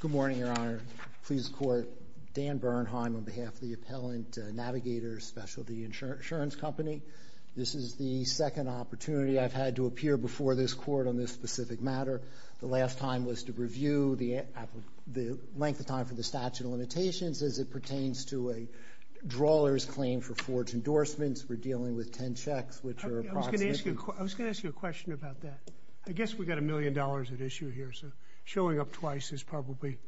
Good morning, Your Honor. Pleased to court, Dan Bernheim on behalf of the Appellant Navigators Specialty Insurance Company. This is the second opportunity I've had to appear before this court on this specific matter. The last time was to review the length of time for the statute of limitations as it pertains to a drawler's claim for forged endorsements. We're dealing with ten checks, which are approximately... I was going to ask you a question about that. I guess we've got a million dollars at issue here, so showing up twice is probably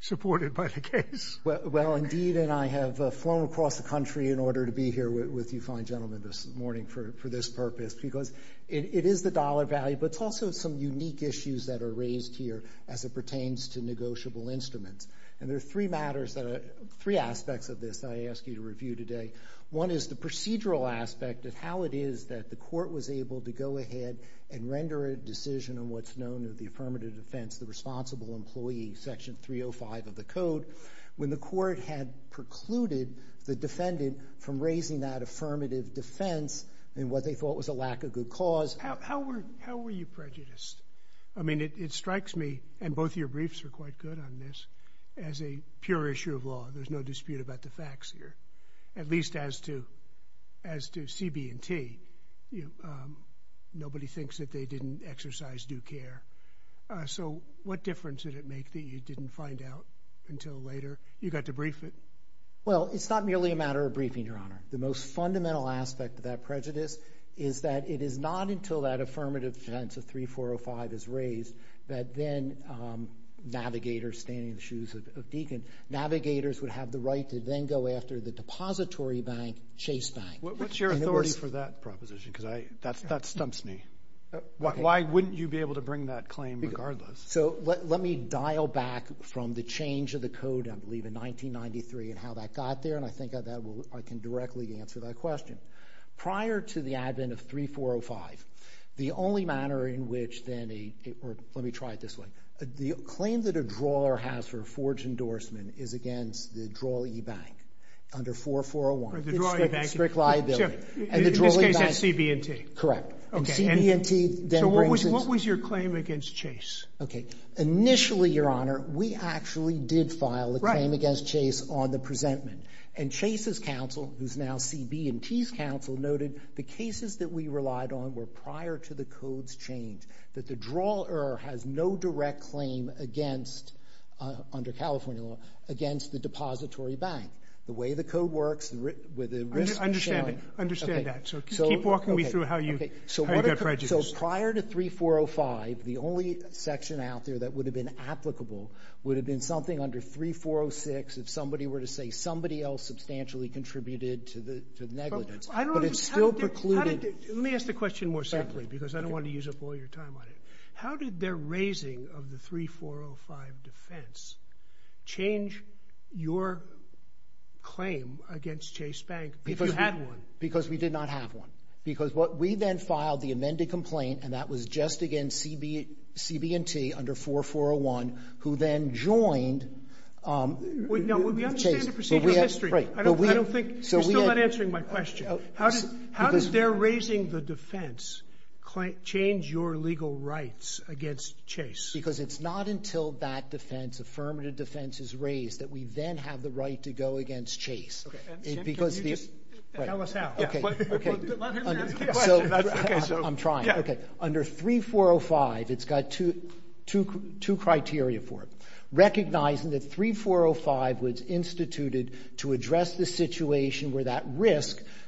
supported by the case. Well, indeed, and I have flown across the country in order to be here with you fine gentlemen this morning for this purpose, because it is the dollar value, but it's also some unique issues that are raised here as it pertains to negotiable instruments. And there are three matters that are... three aspects of this I ask you to review today. One is the procedural aspect of how it is that the court was able to go ahead and render a decision on what's known as the affirmative defense, the responsible employee, section 305 of the code, when the court had precluded the defendant from raising that affirmative defense in what they thought was a lack of good cause. How were you prejudiced? I mean, it strikes me, and both of your briefs are quite good on this, as a pure issue of law. There's no dispute about the facts here, at least as to CB&T. Nobody thinks that they didn't exercise due care. So what difference did it make that you didn't find out until later? You got to brief it. Well, it's not merely a matter of briefing, Your Honor. The most fundamental aspect of that prejudice is that it is not until that affirmative defense of 3405 is raised that then navigators standing in the shoes of Deakin, navigators would have the right to then go after the depository bank, Chase Bank. What's your authority for that proposition? Because that stumps me. Why wouldn't you be able to bring that claim regardless? So let me dial back from the change of the code, I believe, in 1993 and how that got there, and I think I can directly answer that question. Prior to the advent of 3405, the only manner in which then a, or let me try it this way, the claim that a drawer has for forged endorsement is against the draw e-bank under 4401. The draw e-bank. Strict liability. In this case, that's CB&T? Correct. Okay. And CB&T then brings in— So what was your claim against Chase? Okay. Initially, Your Honor, we actually did file the claim against Chase on the presentment, and Chase's counsel, who's now CB&T's counsel, noted the cases that we relied on were prior to the code's change, that the drawer has no direct claim against, under California law, against the depository bank. The way the code works, the risk of sharing— I understand that. So keep walking me through how you got prejudice. So prior to 3405, the only section out there that would have been applicable would have been something under 3406 if somebody were to say somebody else substantially contributed to the negligence. I don't understand. But it's still precluded— I don't understand, because I don't want to use up all your time on it. How did their raising of the 3405 defense change your claim against Chase Bank, if you had one? Because we did not have one. Because what we then filed, the amended complaint, and that was just against CB&T under 4401, who then joined— We understand the procedure's history. I don't think—you're still not answering my question. How does their raising the defense change your legal rights against Chase? Because it's not until that defense, affirmative defense, is raised that we then have the right to go against Chase. Okay. And, Sam, can you just tell us how? Yeah. Okay. Let him answer the question. I'm trying. Yeah. Okay. Under 3405, it's got two criteria for it. Recognizing that 3405 was instituted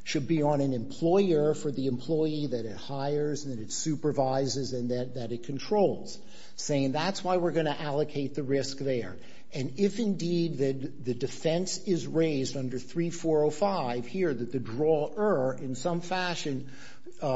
to be on an employer for the employee that it hires and that it supervises and that it controls, saying that's why we're going to allocate the risk there. And if, indeed, the defense is raised under 3405, here, that the drawer, in some fashion,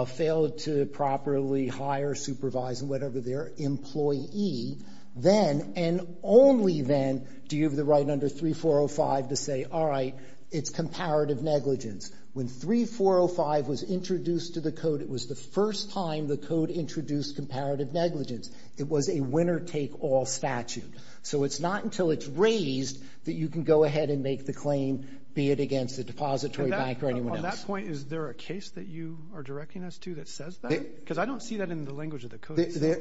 failed to properly hire, supervise, and whatever their employee, then, and only then, do you have the right under 3405 to say, all right, it's comparative negligence. When 3405 was introduced to the Code, it was the first time the Code introduced comparative negligence. It was a winner-take-all statute. So it's not until it's raised that you can go ahead and make the claim, be it against a depository bank or anyone else. On that point, is there a case that you are directing us to that says that? Because I don't see that in the language of the Code itself.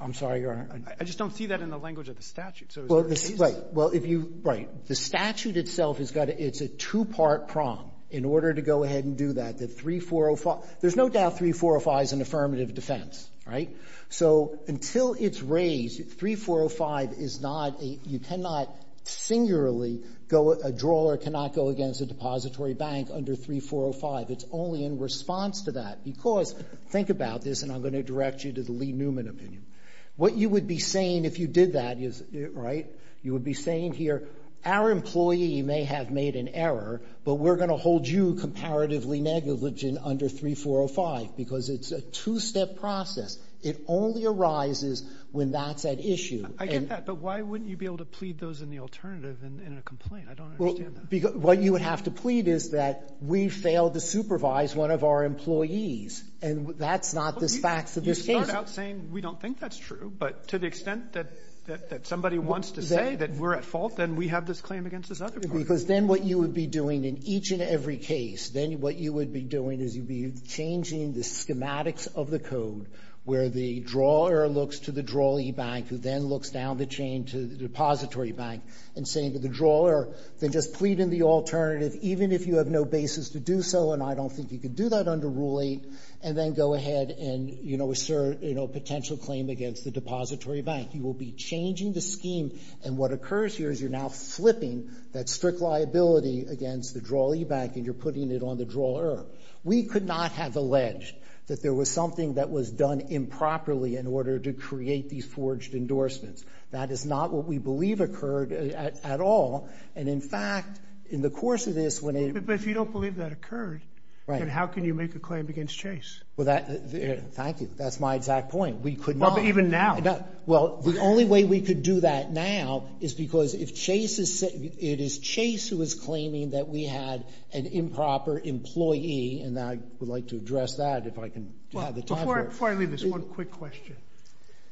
I'm sorry, Your Honor. I just don't see that in the language of the statute. So is there a case— Right. Well, if you — right. The statute itself has got to — it's a two-part prong. In order to go ahead and do that, the 3405 — there's no doubt 3405 is an affirmative defense, right? So until it's raised, 3405 is not a — you cannot singularly go — a drawer cannot go against a depository bank under 3405. It's only in response to that, because — think about this, and I'm going to direct you to the Lee Newman opinion. What you would be saying if you did that is — right? You would be saying here, our employee may have made an error, but we're going to hold you comparatively negligent under 3405, because it's a two-step process. It only arises when that's at issue. I get that. But why wouldn't you be able to plead those in the alternative in a complaint? I don't understand that. Well, what you would have to plead is that we failed to supervise one of our employees. And that's not the facts of this case. You start out saying we don't think that's true, but to the extent that — that somebody wants to say that we're at fault, then we have this claim against this other person. Because then what you would be doing in each and every case, then what you would be doing is you'd be changing the schematics of the code where the drawer looks to the drawee bank, who then looks down the chain to the depository bank, and saying to the drawer, then just plead in the alternative, even if you have no basis to do so, and I don't think you can do that under Rule 8, and then go ahead and, you know, assert, you know, potential claim against the depository bank. You will be changing the scheme, and what occurs here is you're now flipping that strict liability against the drawee bank, and you're putting it on the drawer. We could not have alleged that there was something that was done improperly in order to create these forged endorsements. That is not what we believe occurred at all. And, in fact, in the course of this, when it — But if you don't believe that occurred, then how can you make a claim against Chase? Well, that — thank you. That's my exact point. We could not — Well, but even now. Well, the only way we could do that now is because if Chase is — it is Chase who is claiming that we had an improper employee, and I would like to address that, if I can have the time for it. Before I leave this, one quick question.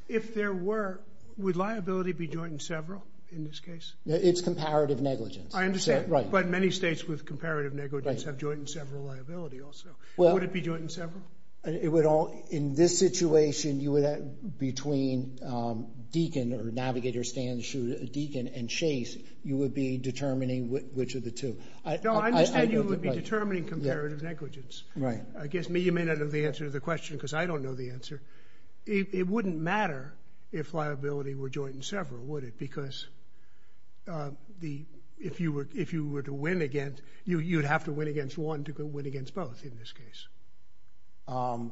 If there were — would liability be joint in several in this case? It's comparative negligence. I understand. Right. But many states with comparative negligence have joint in several liability also. Would it be joint in several? It would all — in this situation, you would have — between Deakin, or Navigator stands to Deakin, and Chase, you would be determining which of the two. No, I understand you would be determining comparative negligence. Right. I guess you may not know the answer to the question because I don't know the answer. It wouldn't matter if liability were joint in several, would it? Because the — if you were to win against — you'd have to win against one to win against both in this case.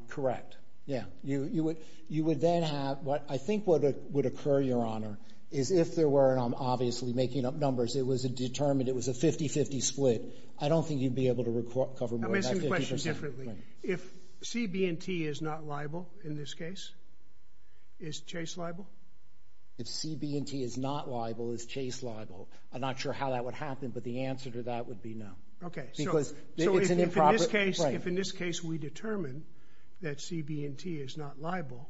Correct. Yeah. You would then have — I think what would occur, Your Honor, is if there were, obviously, making up numbers, it was a determined — it was a 50-50 split. I don't think you'd be able to cover more than 50 percent. Let me ask you a question differently. If CB&T is not liable in this case, is Chase liable? If CB&T is not liable, is Chase liable? I'm not sure how that would happen, but the answer to that would be no. Okay. Because it's an improper — If in this case we determine that CB&T is not liable,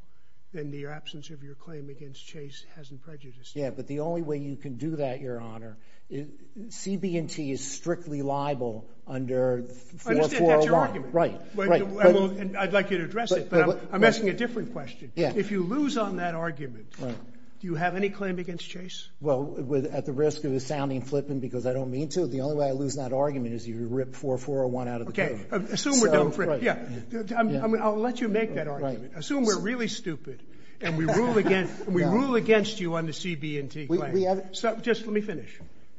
then the absence of your claim against Chase hasn't prejudiced it. Yeah, but the only way you can do that, Your Honor, CB&T is strictly liable under — I understand. That's your argument. Right. Right. Well, I'd like you to address it, but I'm asking a different question. Yeah. If you lose on that argument, do you have any claim against Chase? Well, at the risk of it sounding flippant because I don't mean to, the only way I lose that argument is if you rip 4401 out of the paper. Okay. Assume we're done — yeah, I'll let you make that argument. Assume we're really stupid and we rule against — we rule against you on the CB&T claim. We have — So just let me finish.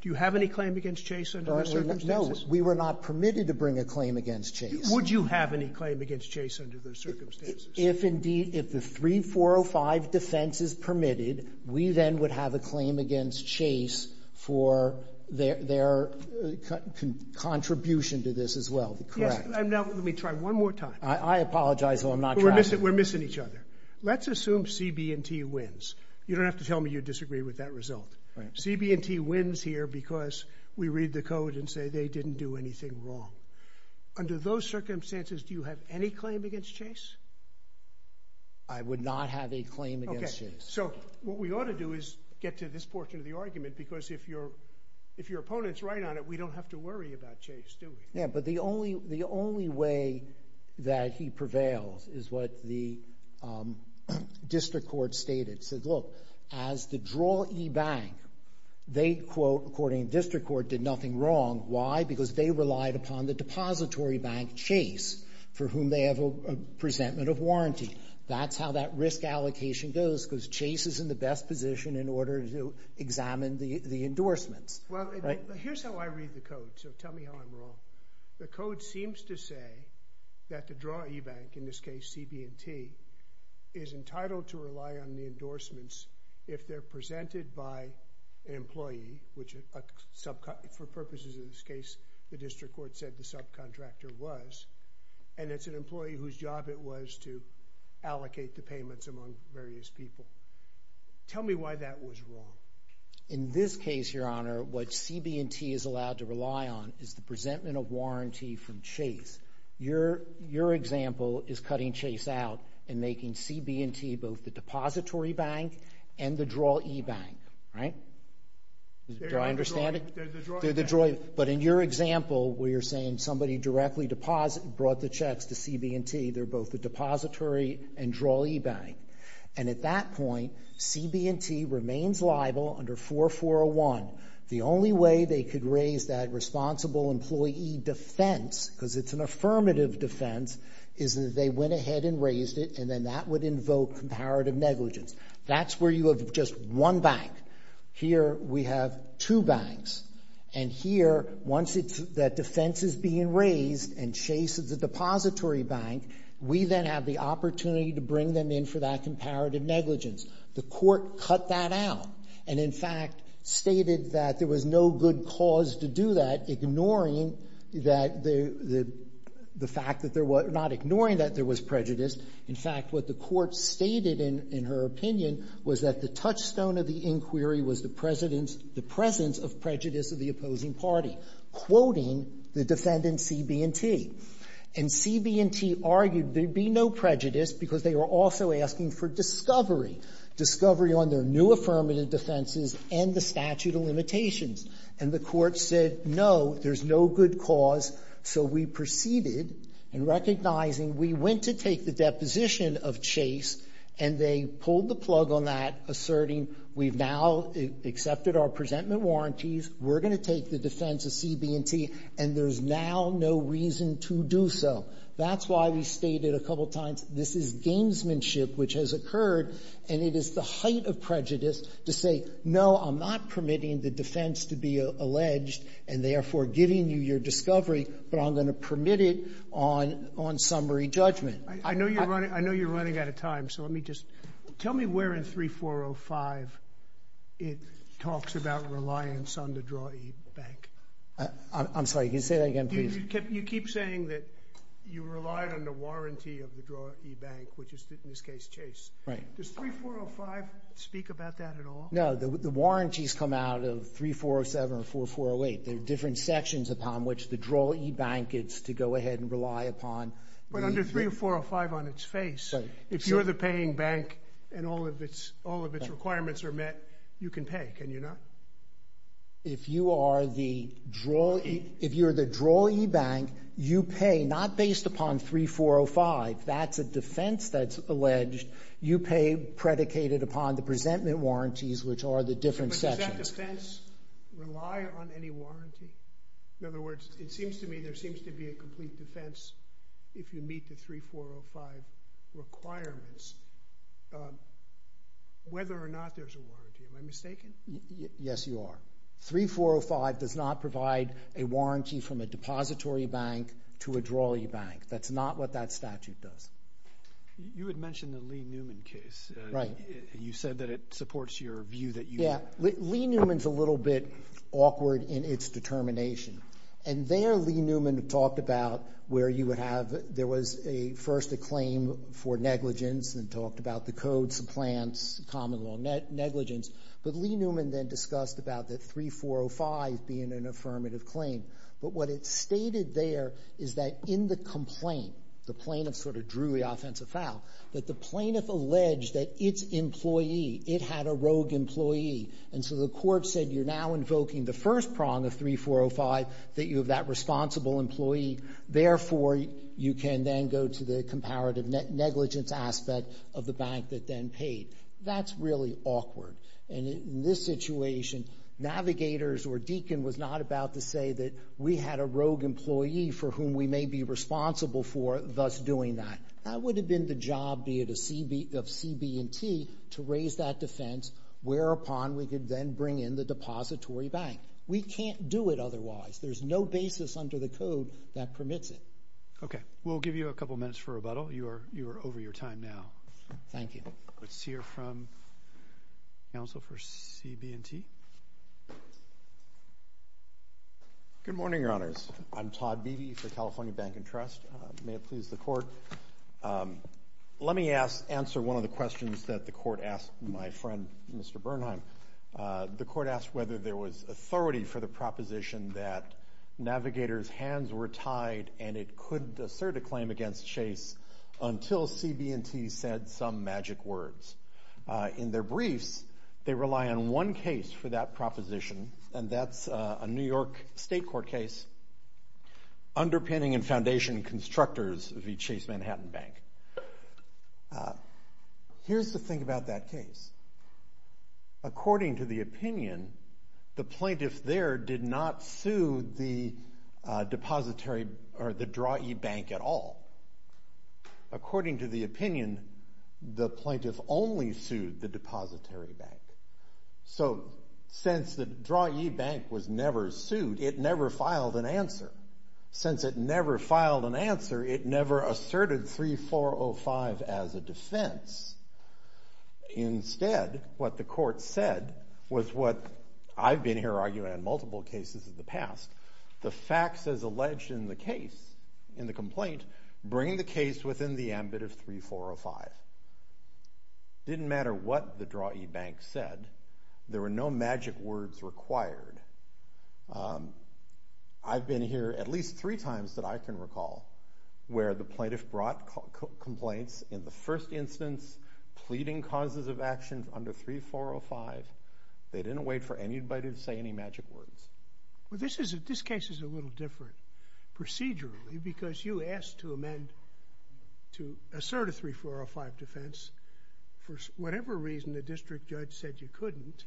Do you have any claim against Chase under those circumstances? No, we were not permitted to bring a claim against Chase. Would you have any claim against Chase under those circumstances? If indeed — if the 3405 defense is permitted, we then would have a claim against Chase for their contribution to this as well, correct? Yes. And now let me try one more time. I apologize, though. I'm not trying. We're missing each other. Let's assume CB&T wins. You don't have to tell me you disagree with that result. Right. CB&T wins here because we read the code and say they didn't do anything wrong. Under those circumstances, do you have any claim against Chase? I would not have a claim against Chase. So what we ought to do is get to this portion of the argument because if you're — if your opponent's right on it, we don't have to worry about Chase, do we? Yeah, but the only — the only way that he prevails is what the district court stated. It says, look, as the draw e-bank, they, quote, according to the district court, did nothing wrong. Why? Because they relied upon the depository bank, Chase, for whom they have a presentment of warranty. That's how that risk allocation goes because Chase is in the best position in order to examine the endorsements. Well, here's how I read the code, so tell me how I'm wrong. The code seems to say that the draw e-bank, in this case CB&T, is entitled to rely on the endorsements if they're presented by an employee, which for purposes of this case the district court said the subcontractor was, and it's an employee whose job it was to allocate the payments among various people. Tell me why that was wrong. In this case, Your Honor, what CB&T is allowed to rely on is the presentment of warranty from Chase. Your example is cutting Chase out and making CB&T both the depository bank and the draw e-bank, right? Do I understand it? They're the draw e-bank. But in your example, where you're saying somebody directly brought the checks to CB&T, they're both the depository and draw e-bank, and at that point CB&T remains liable under 4401. The only way they could raise that responsible employee defense, because it's an affirmative defense, is that they went ahead and raised it, and then that would invoke comparative negligence. That's where you have just one bank. Here we have two banks, and here once that defense is being raised and Chase is a depository bank, we then have the opportunity to bring them in for that comparative negligence. The court cut that out and, in fact, stated that there was no good cause to do that, ignoring that the fact that there was not ignoring that there was prejudice. In fact, what the court stated in her opinion was that the touchstone of the inquiry was the presence of prejudice of the opposing party, quoting the defendant CB&T. And CB&T argued there'd be no prejudice because they were also asking for discovery, discovery on their new affirmative defenses and the statute of limitations. And the court said, no, there's no good cause, so we proceeded in recognizing we went to take the deposition of Chase, and they pulled the plug on that, asserting we've now accepted our presentment warranties, we're going to take the defense of CB&T, and there's now no reason to do so. That's why we stated a couple times this is gamesmanship which has occurred, and it is the height of prejudice to say, no, I'm not permitting the defense to be alleged and therefore giving you your discovery, but I'm going to permit it on summary judgment. I know you're running out of time, so let me just, tell me where in 3405 it talks about reliance on the draw-e bank. I'm sorry, can you say that again, please? You keep saying that you relied on the warranty of the draw-e bank, which is in this case Chase. Right. Does 3405 speak about that at all? No, the warranties come out of 3407 or 4408. There are different sections upon which the draw-e bank is to go ahead and rely upon. But under 3405 on its face, if you're the paying bank and all of its requirements are met, you can pay, can you not? If you are the draw-e, if you're the draw-e bank, you pay not based upon 3405, that's a defense that's alleged, you pay predicated upon the presentment warranties which are the different sections. But does that defense rely on any warranty? In other words, it seems to me there seems to be a complete defense if you meet the 3405 requirements, whether or not there's a warranty. Am I mistaken? Yes, you are. 3405 does not provide a warranty from a depository bank to a draw-e bank. That's not what that statute does. You had mentioned the Lee-Newman case. Right. You said that it supports your view that you... Yeah. Lee-Newman's a little bit awkward in its determination. And there, Lee-Newman talked about where you would have, there was first a claim for negligence and talked about the codes, the plans, common law negligence. But Lee-Newman then discussed about the 3405 being an affirmative claim. But what it stated there is that in the complaint, the plaintiff sort of drew the offensive foul, that the plaintiff alleged that its employee, it had a rogue employee. And so the court said you're now invoking the first prong of 3405, that you have that responsible employee. Therefore, you can then go to the comparative negligence aspect of the bank that then paid. That's really awkward. And in this situation, Navigators or Deakin was not about to say that we had a rogue employee for whom we may be responsible for thus doing that. That would have been the job of CB&T to raise that defense, whereupon we could then bring in the depository bank. We can't do it otherwise. There's no basis under the code that permits it. Okay. We'll give you a couple minutes for rebuttal. You are over your time now. Thank you. Let's hear from counsel for CB&T. Good morning, Your Honors. I'm Todd Beebe for California Bank and Trust. May it please the court. Let me answer one of the questions that the court asked my friend, Mr. Bernheim. The court asked whether there was authority for the proposition that Navigators' hands were tied and it could assert a claim against Chase until CB&T said some magic words. In their briefs, they rely on one case for that proposition, and that's a New York State Court case, underpinning and foundation constructors of the Chase Manhattan Bank. Here's the thing about that case. According to the opinion, the plaintiff there did not sue the depository or the Drawee Bank at all. According to the opinion, the plaintiff only sued the depository bank. So since the Drawee Bank was never sued, it never filed an answer. Since it never filed an answer, it never asserted 3405 as a defense. Instead, what the court said was what I've been here arguing in multiple cases in the past. The facts as alleged in the case, in the complaint, bring the case within the ambit of 3405. Didn't matter what the Drawee Bank said. There were no magic words required. I've been here at least three times that I can recall where the plaintiff brought complaints in the first instance, pleading causes of action under 3405. They didn't wait for anybody to say any magic words. Well, this case is a little different procedurally because you asked to amend, to assert a 3405 defense. For whatever reason, the district judge said you couldn't,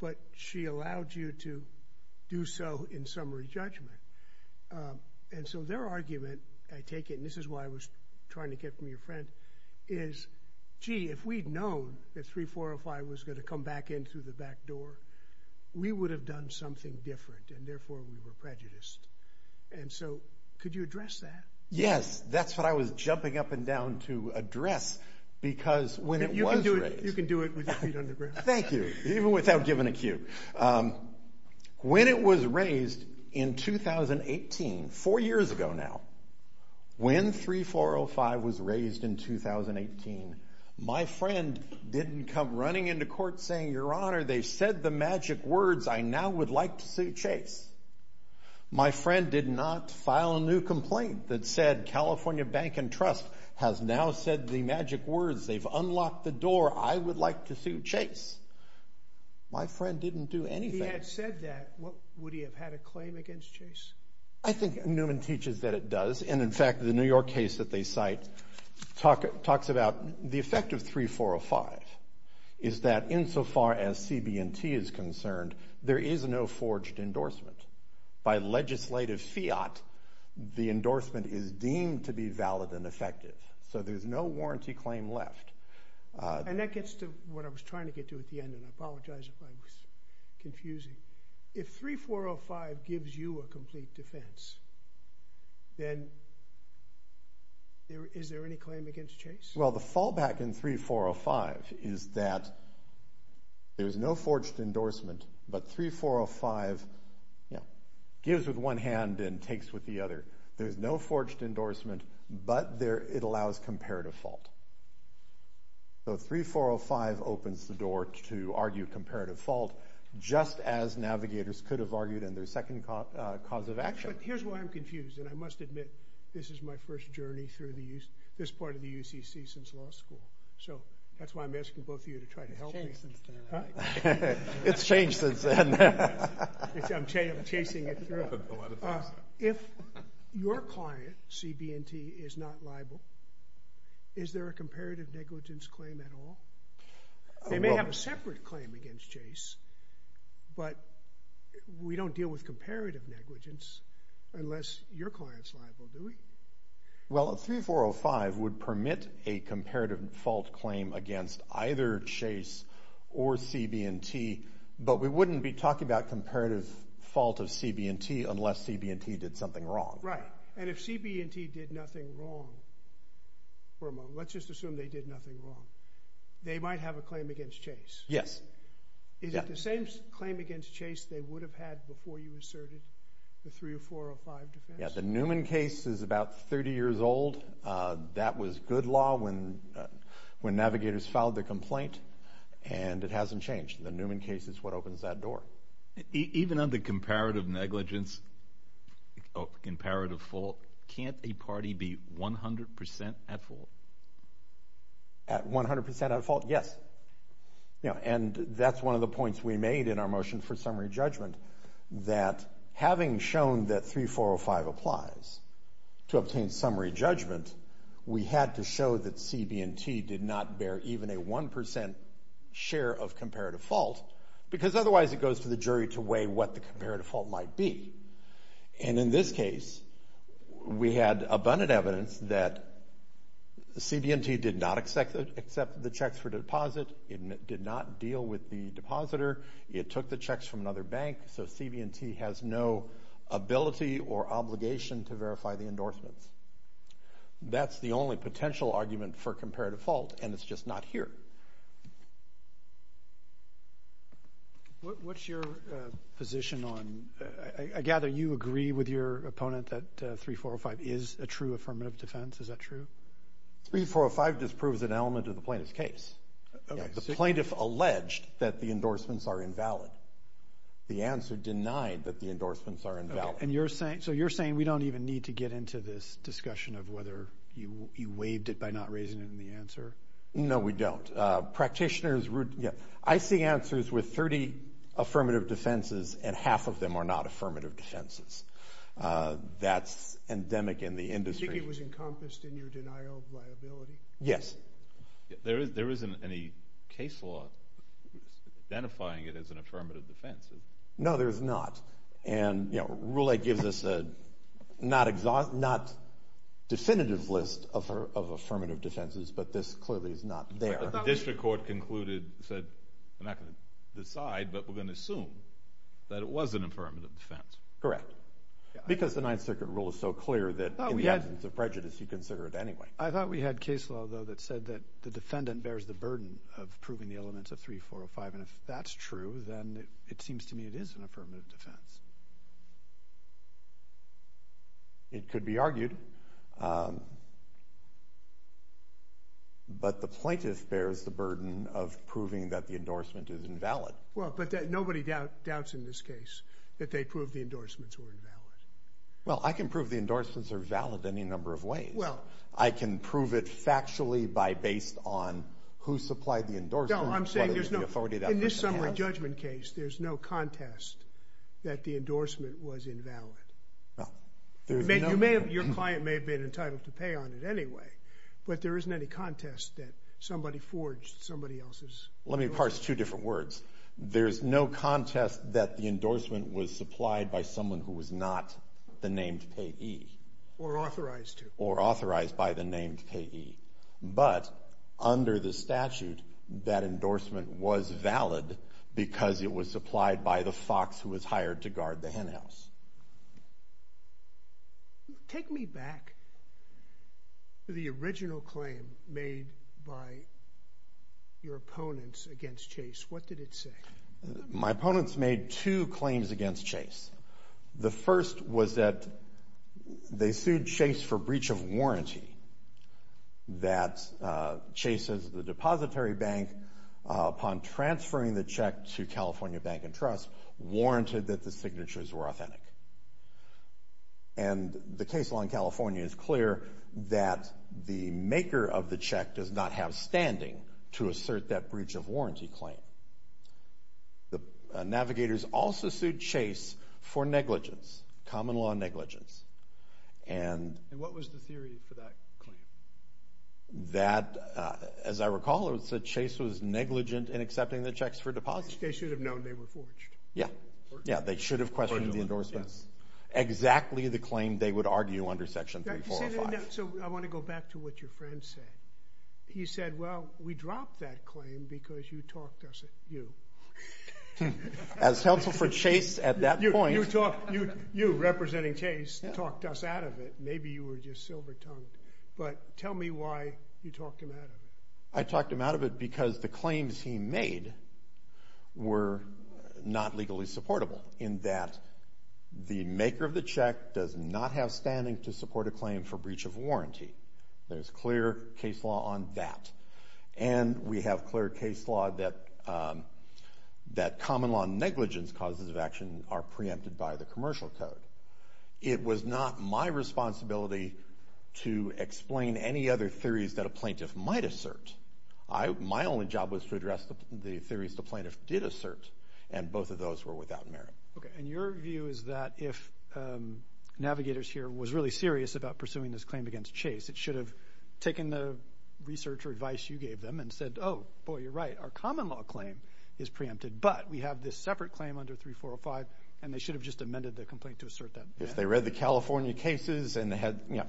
but she allowed you to do so in summary judgment. And so their argument, I take it, and this is why I was trying to get from your friend, is, gee, if we'd known that 3405 was going to come back in through the back door, we would have done something different and therefore we were prejudiced. And so could you address that? Yes. That's what I was jumping up and down to address because when it was raised. You can do it with your feet on the ground. Thank you. Even without giving a cue. When it was raised in 2018, four years ago now, when 3405 was raised in 2018, my friend didn't come running into court saying, your honor, they said the magic words. I now would like to sue Chase. My friend did not file a new complaint that said California Bank and Trust has now said the magic words. They've unlocked the door. I would like to sue Chase. My friend didn't do anything. If he had said that, would he have had a claim against Chase? I think Newman teaches that it does. And in fact, the New York case that they cite talks about the effect of 3405 is that insofar as CB&T is concerned, there is no forged endorsement. By legislative fiat, the endorsement is deemed to be valid and effective. So there's no warranty claim left. And that gets to what I was trying to get to at the end. And I apologize if I was confusing. If 3405 gives you a complete defense, then is there any claim against Chase? Well, the fallback in 3405 is that there's no forged endorsement. But 3405 gives with one hand and takes with the other. There's no forged endorsement, but it allows comparative fault. So 3405 opens the door to argue comparative fault, just as Navigators could have argued in their second cause of action. But here's why I'm confused. And I must admit, this is my first journey through this part of the UCC since law school. So that's why I'm asking both of you to try to help me. It's changed since then. It's changed since then. I'm chasing it through. If your client, CB&T, is not liable, is there a comparative negligence claim at all? They may have a separate claim against Chase. But we don't deal with comparative negligence unless your client's liable, do we? Well, 3405 would permit a comparative fault claim against either Chase or CB&T. But we wouldn't be talking about comparative fault of CB&T unless CB&T did something wrong. Right. And if CB&T did nothing wrong for a moment, let's just assume they did nothing wrong, they might have a claim against Chase. Yes. Is it the same claim against Chase they would have had before you asserted the 3405 defense? Yeah, the Newman case is about 30 years old. That was good law when Navigators filed their complaint, and it hasn't changed. The Newman case is what opens that door. Even under comparative negligence or comparative fault, can't a party be 100% at fault? At 100% at fault, yes. And that's one of the points we made in our motion for summary judgment, that having shown that 3405 applies to obtain summary judgment, we had to show that CB&T did not bear even a 1% share of comparative fault, because otherwise it goes to the jury to weigh what the comparative fault might be. And in this case, we had abundant evidence that CB&T did not accept the checks for deposit, it did not deal with the depositor, it took the checks from another bank, so CB&T has no ability or obligation to verify the endorsements. That's the only potential argument for comparative fault, and it's just not here. What's your position on... I gather you agree with your opponent that 3405 is a true affirmative defense, is that true? 3405 disproves an element of the plaintiff's case. The plaintiff alleged that the endorsements are invalid. The answer denied that the endorsements are invalid. So you're saying we don't even need to get into this discussion of whether you waived it by not raising it in the answer? No, we don't. I see answers with 30 affirmative defenses, and half of them are not affirmative defenses. That's endemic in the industry. Do you think it was encompassed in your denial of liability? Yes. There isn't any case law identifying it as an affirmative defense. No, there's not. And Rule 8 gives us a not definitive list of affirmative defenses, but this clearly is not there. The district court concluded, said, we're not going to decide, but we're going to assume that it was an affirmative defense. Correct, because the Ninth Circuit rule is so clear that in the absence of prejudice, you consider it anyway. I thought we had case law, though, that said that the defendant bears the burden of proving the elements of 3405, and if that's true, then it seems to me it is an affirmative defense. It could be argued. But the plaintiff bears the burden of proving that the endorsement is invalid. Well, but nobody doubts in this case that they proved the endorsements were invalid. Well, I can prove the endorsements are valid any number of ways. Well. I can prove it factually by based on who supplied the endorsement. No, I'm saying there's no... There's no contest that the endorsement was invalid. Your client may have been entitled to pay on it anyway, but there isn't any contest that somebody forged somebody else's... Let me parse two different words. There's no contest that the endorsement was supplied by someone who was not the named payee. Or authorized to. Or authorized by the named payee. But under the statute, that endorsement was valid because it was supplied by the fox who was hired to guard the hen house. Take me back to the original claim made by your opponents against Chase. What did it say? My opponents made two claims against Chase. The first was that Chase is the depository bank. Upon transferring the check to California Bank and Trust, warranted that the signatures were authentic. And the case law in California is clear that the maker of the check does not have standing to assert that breach of warranty claim. The navigators also sued Chase for negligence. Common law negligence. And... Claim. That, as I recall, it said Chase was negligent in accepting the checks for deposit. They should have known they were forged. Yeah. Yeah, they should have questioned the endorsements. Exactly the claim they would argue under section 3405. So I want to go back to what your friend said. He said, well, we dropped that claim because you talked us... You. As counsel for Chase at that point... You talked... You, representing Chase, talked us out of it. Maybe you were just silver-tongued. But tell me why you talked him out of it. I talked him out of it because the claims he made were not legally supportable, in that the maker of the check does not have standing to support a claim for breach of warranty. There's clear case law on that. And we have clear case law that common law negligence causes of action are preempted by the commercial code. It was not my responsibility to explain any other theories that a plaintiff might assert. My only job was to address the theories the plaintiff did assert, and both of those were without merit. Okay, and your view is that if Navigators here was really serious about pursuing this claim against Chase, it should have taken the research or advice you gave them and said, oh, boy, you're right, our common law claim is preempted. But we have this separate claim under 3405, and they should have just amended the complaint to assert that. If they read the California cases and they had, you know,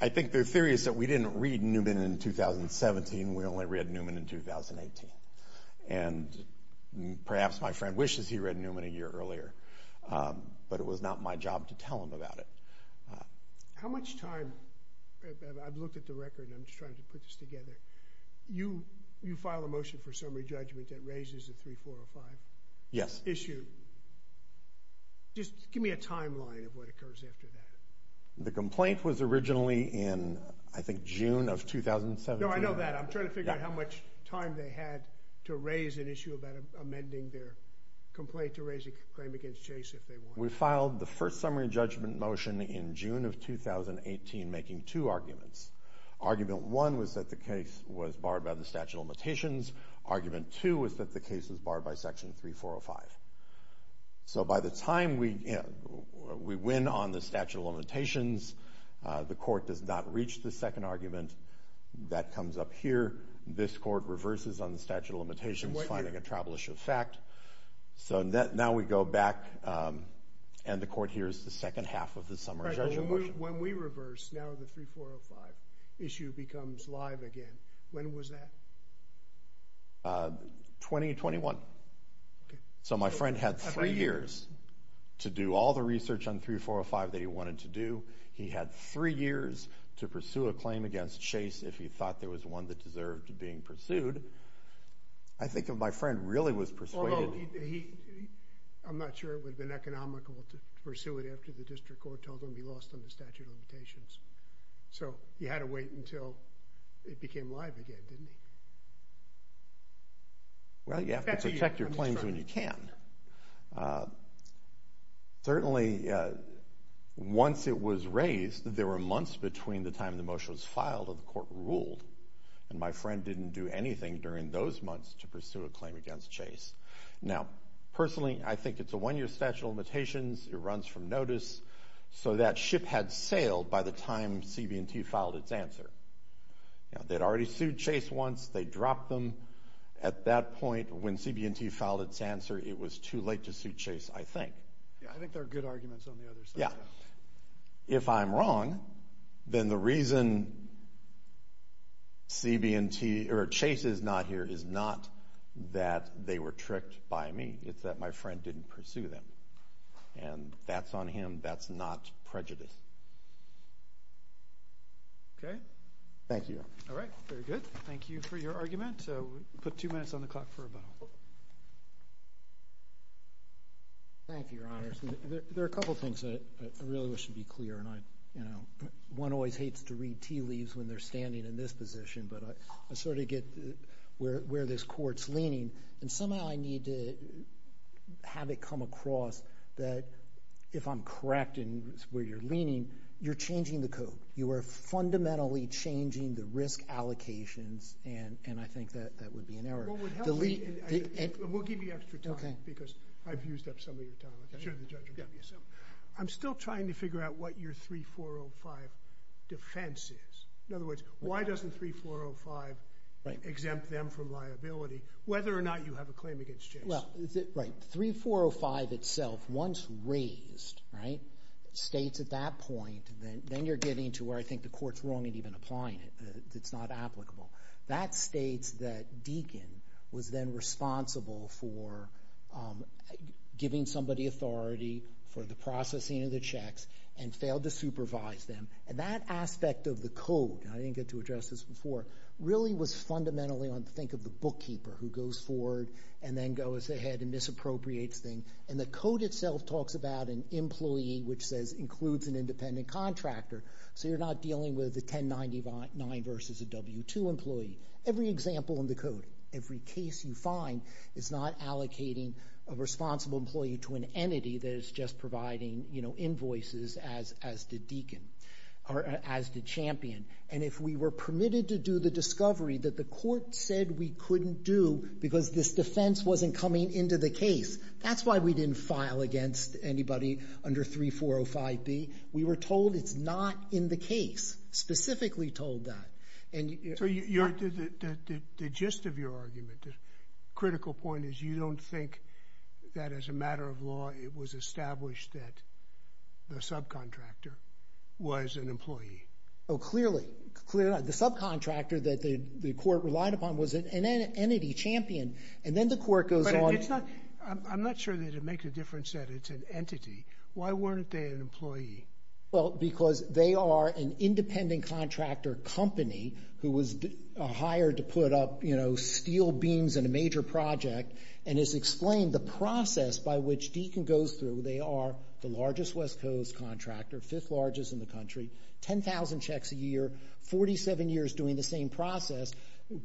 I think their theory is that we didn't read Newman in 2017. We only read Newman in 2018. And perhaps my friend wishes he read Newman a year earlier, but it was not my job to tell him about it. How much time, I've looked at the record, I'm just trying to put this together. You file a motion for summary judgment that raises the 3405 issue. Just give me a timeline of what occurs after that. The complaint was originally in, I think, June of 2017. No, I know that. I'm trying to figure out how much time they had to raise an issue about amending their complaint to raise a claim against Chase if they wanted. We filed the first summary judgment motion in June of 2018, making two arguments. Argument one was that the case was barred by the statute of limitations. Argument two was that the case was barred by section 3405. So by the time we, you know, we win on the statute of limitations, the court does not reach the second argument. That comes up here. This court reverses on the statute of limitations, finding a travelish effect. So now we go back, and the court hears the second half of the summary judgment motion. When we reverse, now the 3405 issue becomes live again. When was that? 2021. Okay. So my friend had three years to do all the research on 3405 that he wanted to do. He had three years to pursue a claim against Chase if he thought there was one that deserved being pursued. I think if my friend really was persuaded... I'm not sure it would have been economical to pursue it after the district court told him he lost on the statute of limitations. So he had to wait until it became live again, didn't he? Well, you have to protect your claims when you can. Certainly, once it was raised, there were months between the time the motion was filed and the court ruled. And my friend didn't do anything during those months to pursue a claim against Chase. Now, personally, I think it's a one-year statute of limitations. It runs from notice. So that ship had sailed by the time CB&T filed its answer. Now, they'd already sued Chase once. They dropped them at that point. When CB&T filed its answer, it was too late to sue Chase, I think. Yeah, I think there are good arguments on the other side. Yeah. If I'm wrong, then the reason Chase is not here is not that they were tricked by me. It's that my friend didn't pursue them. And that's on him. That's not prejudice. Okay. Thank you. All right. Very good. Thank you for your argument. So we'll put two minutes on the clock for rebuttal. Thank you, Your Honors. There are a couple of things I really wish to be clear. One always hates to read tea leaves when they're standing in this position. But I sort of get where this court's leaning. And somehow, I need to have it come across that if I'm correct in where you're leaning, you're changing the code. You are fundamentally changing the risk allocations. And I think that that would be an error. What would help me, and we'll give you extra time, because I've used up some of your time. I'm still trying to figure out what your 3405 defense is. In other words, why doesn't 3405 exempt them from liability, whether or not you have a claim against Chase? Well, right. 3405 itself, once raised, right, states at that point, then you're getting to where I think the court's wrong in even applying it. It's not applicable. That states that Deakin was then responsible for giving somebody authority for the processing of the checks and failed to supervise them. And that aspect of the code, and I didn't get to address this before, really was fundamentally on, think of the bookkeeper who goes forward and then goes ahead and misappropriates things. And the code itself talks about an employee, which says includes an independent contractor. So you're not dealing with a 1099 versus a W-2 employee. Every example in the code, every case you find, is not allocating a responsible employee to an entity that is just providing invoices as did Deakin, or as did Champion. And if we were permitted to do the discovery that the court said we couldn't do because this defense wasn't coming into the case, that's why we didn't file against anybody under 3405B. We were told it's not in the case, specifically told that. So the gist of your argument, the critical point, is you don't think that as a matter of law, it was established that the subcontractor was an employee? Oh, clearly. Clearly not. The subcontractor that the court relied upon was an entity, Champion. And then the court goes on... I'm not sure that it makes a difference that it's an entity. Why weren't they an employee? Well, because they are an independent contractor company who was hired to put up steel beams in a major project and has explained the process by which Deakin goes through. They are the largest West Coast contractor, fifth largest in the country, 10,000 checks a year, 47 years doing the same process.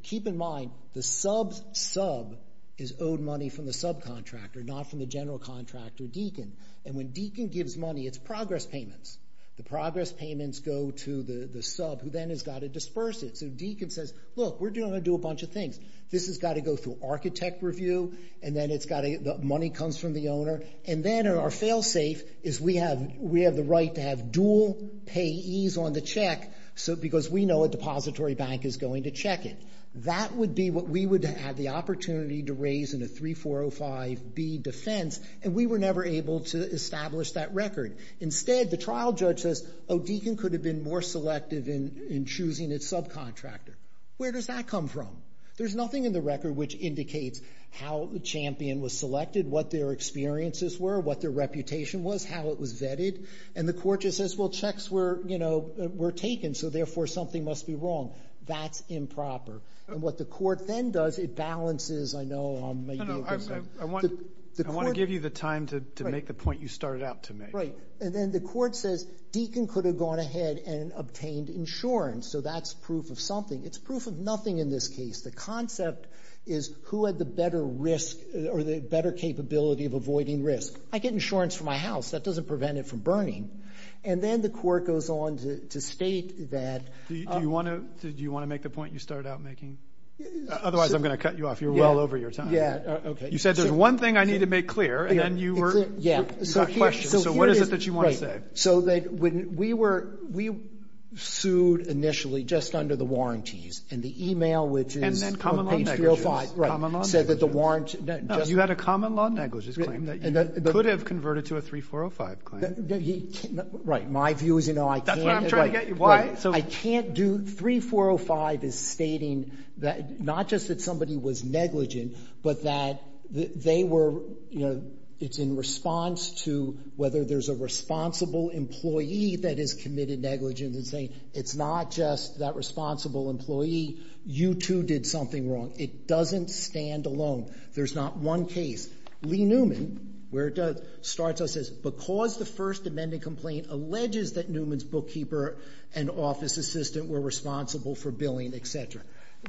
Keep in mind, the sub's sub is owed money from the subcontractor, not from the general contractor, Deakin. And when Deakin gives money, it's progress payments. The progress payments go to the sub, who then has got to disperse it. So Deakin says, look, we're going to do a bunch of things. This has got to go through architect review, and then the money comes from the owner. And then our fail-safe is we have the right to have dual payees on the check, because we know a depository bank is going to check it. That would be what we would have the opportunity to raise in a 3405B defense, and we were never able to establish that record. Instead, the trial judge says, oh, Deakin could have been more selective in choosing its subcontractor. Where does that come from? There's nothing in the record which indicates how the champion was selected, what their experiences were, what their reputation was, how it was vetted. And the court just says, well, checks were taken, so therefore something must be wrong. That's improper. And what the court then does, it balances, I know I'm maybe over- No, no, I want to give you the time to make the point you started out to make. Right. And then the court says Deakin could have gone ahead and obtained insurance. So that's proof of something. It's proof of nothing in this case. The concept is who had the better risk or the better capability of avoiding risk. I get insurance for my house. That doesn't prevent it from burning. And then the court goes on to state that- Do you want to make the point you started out making? Otherwise, I'm going to cut you off. You're well over your time. Yeah, okay. You said there's one thing I need to make clear, and then you were- Yeah, so here is- You got questions. So what is it that you want to say? So that when we were- We sued initially just under the warranties, and the email which is- And then common law negligence. Right, said that the warrant- You had a common law negligence claim that you could have converted to a 3405 claim. Right. My view is I can't- That's what I'm trying to get you. Why? I can't do- 3405 is stating that not just that somebody was negligent, but that they were- It's in response to whether there's a responsible employee that is committed negligence and saying, it's not just that responsible employee. You two did something wrong. It doesn't stand alone. There's not one case. Lee Newman, where it does, starts out and says, because the first amended complaint alleges that Newman's bookkeeper and office assistant were responsible for billing, et cetera.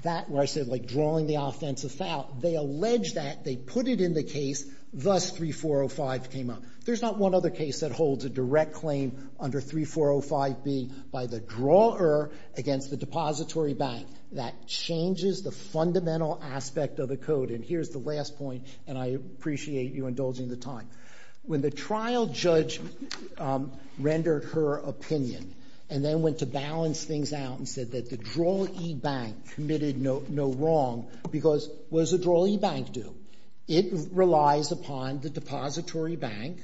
That where I said like drawing the offensive out. They allege that. They put it in the case. Thus, 3405 came up. There's not one other case that holds a direct claim under 3405 being by the drawer against the depository bank. That changes the fundamental aspect of the code. And here's the last point. And I appreciate you indulging the time. When the trial judge rendered her opinion and then went to balance things out and said that the draw e-bank committed no wrong because what does a draw e-bank do? It relies upon the depository bank,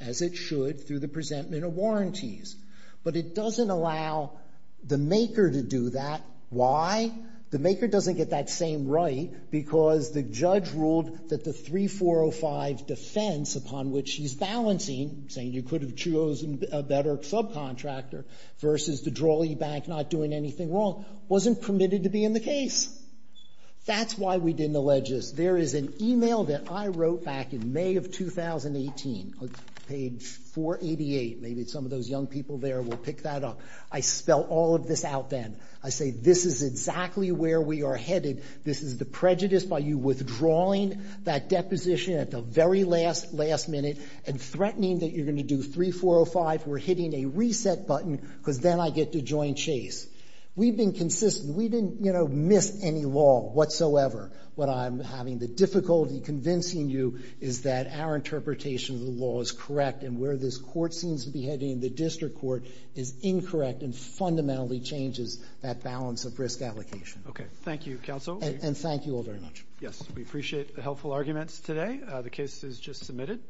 as it should, through the presentment of warranties. But it doesn't allow the maker to do that. Why? The maker doesn't get that same right because the judge ruled that the 3405 defense upon which she's balancing, saying you could have chosen a better subcontractor versus the draw e-bank not doing anything wrong, wasn't permitted to be in the case. That's why we didn't allege this. There is an e-mail that I wrote back in May of 2018, page 488. Maybe some of those young people there will pick that up. I spell all of this out then. I say this is exactly where we are headed. This is the prejudice by you withdrawing that deposition at the very last minute and threatening that you're going to do 3405. We're hitting a reset button because then I get to join Chase. We've been consistent. We didn't, you know, miss any law whatsoever. What I'm having the difficulty convincing you is that our interpretation of the law is correct and where this court seems to be heading, the district court, is that balance of risk allocation. Okay. Thank you, counsel. And thank you all very much. Yes. We appreciate the helpful arguments today. The case is just submitted.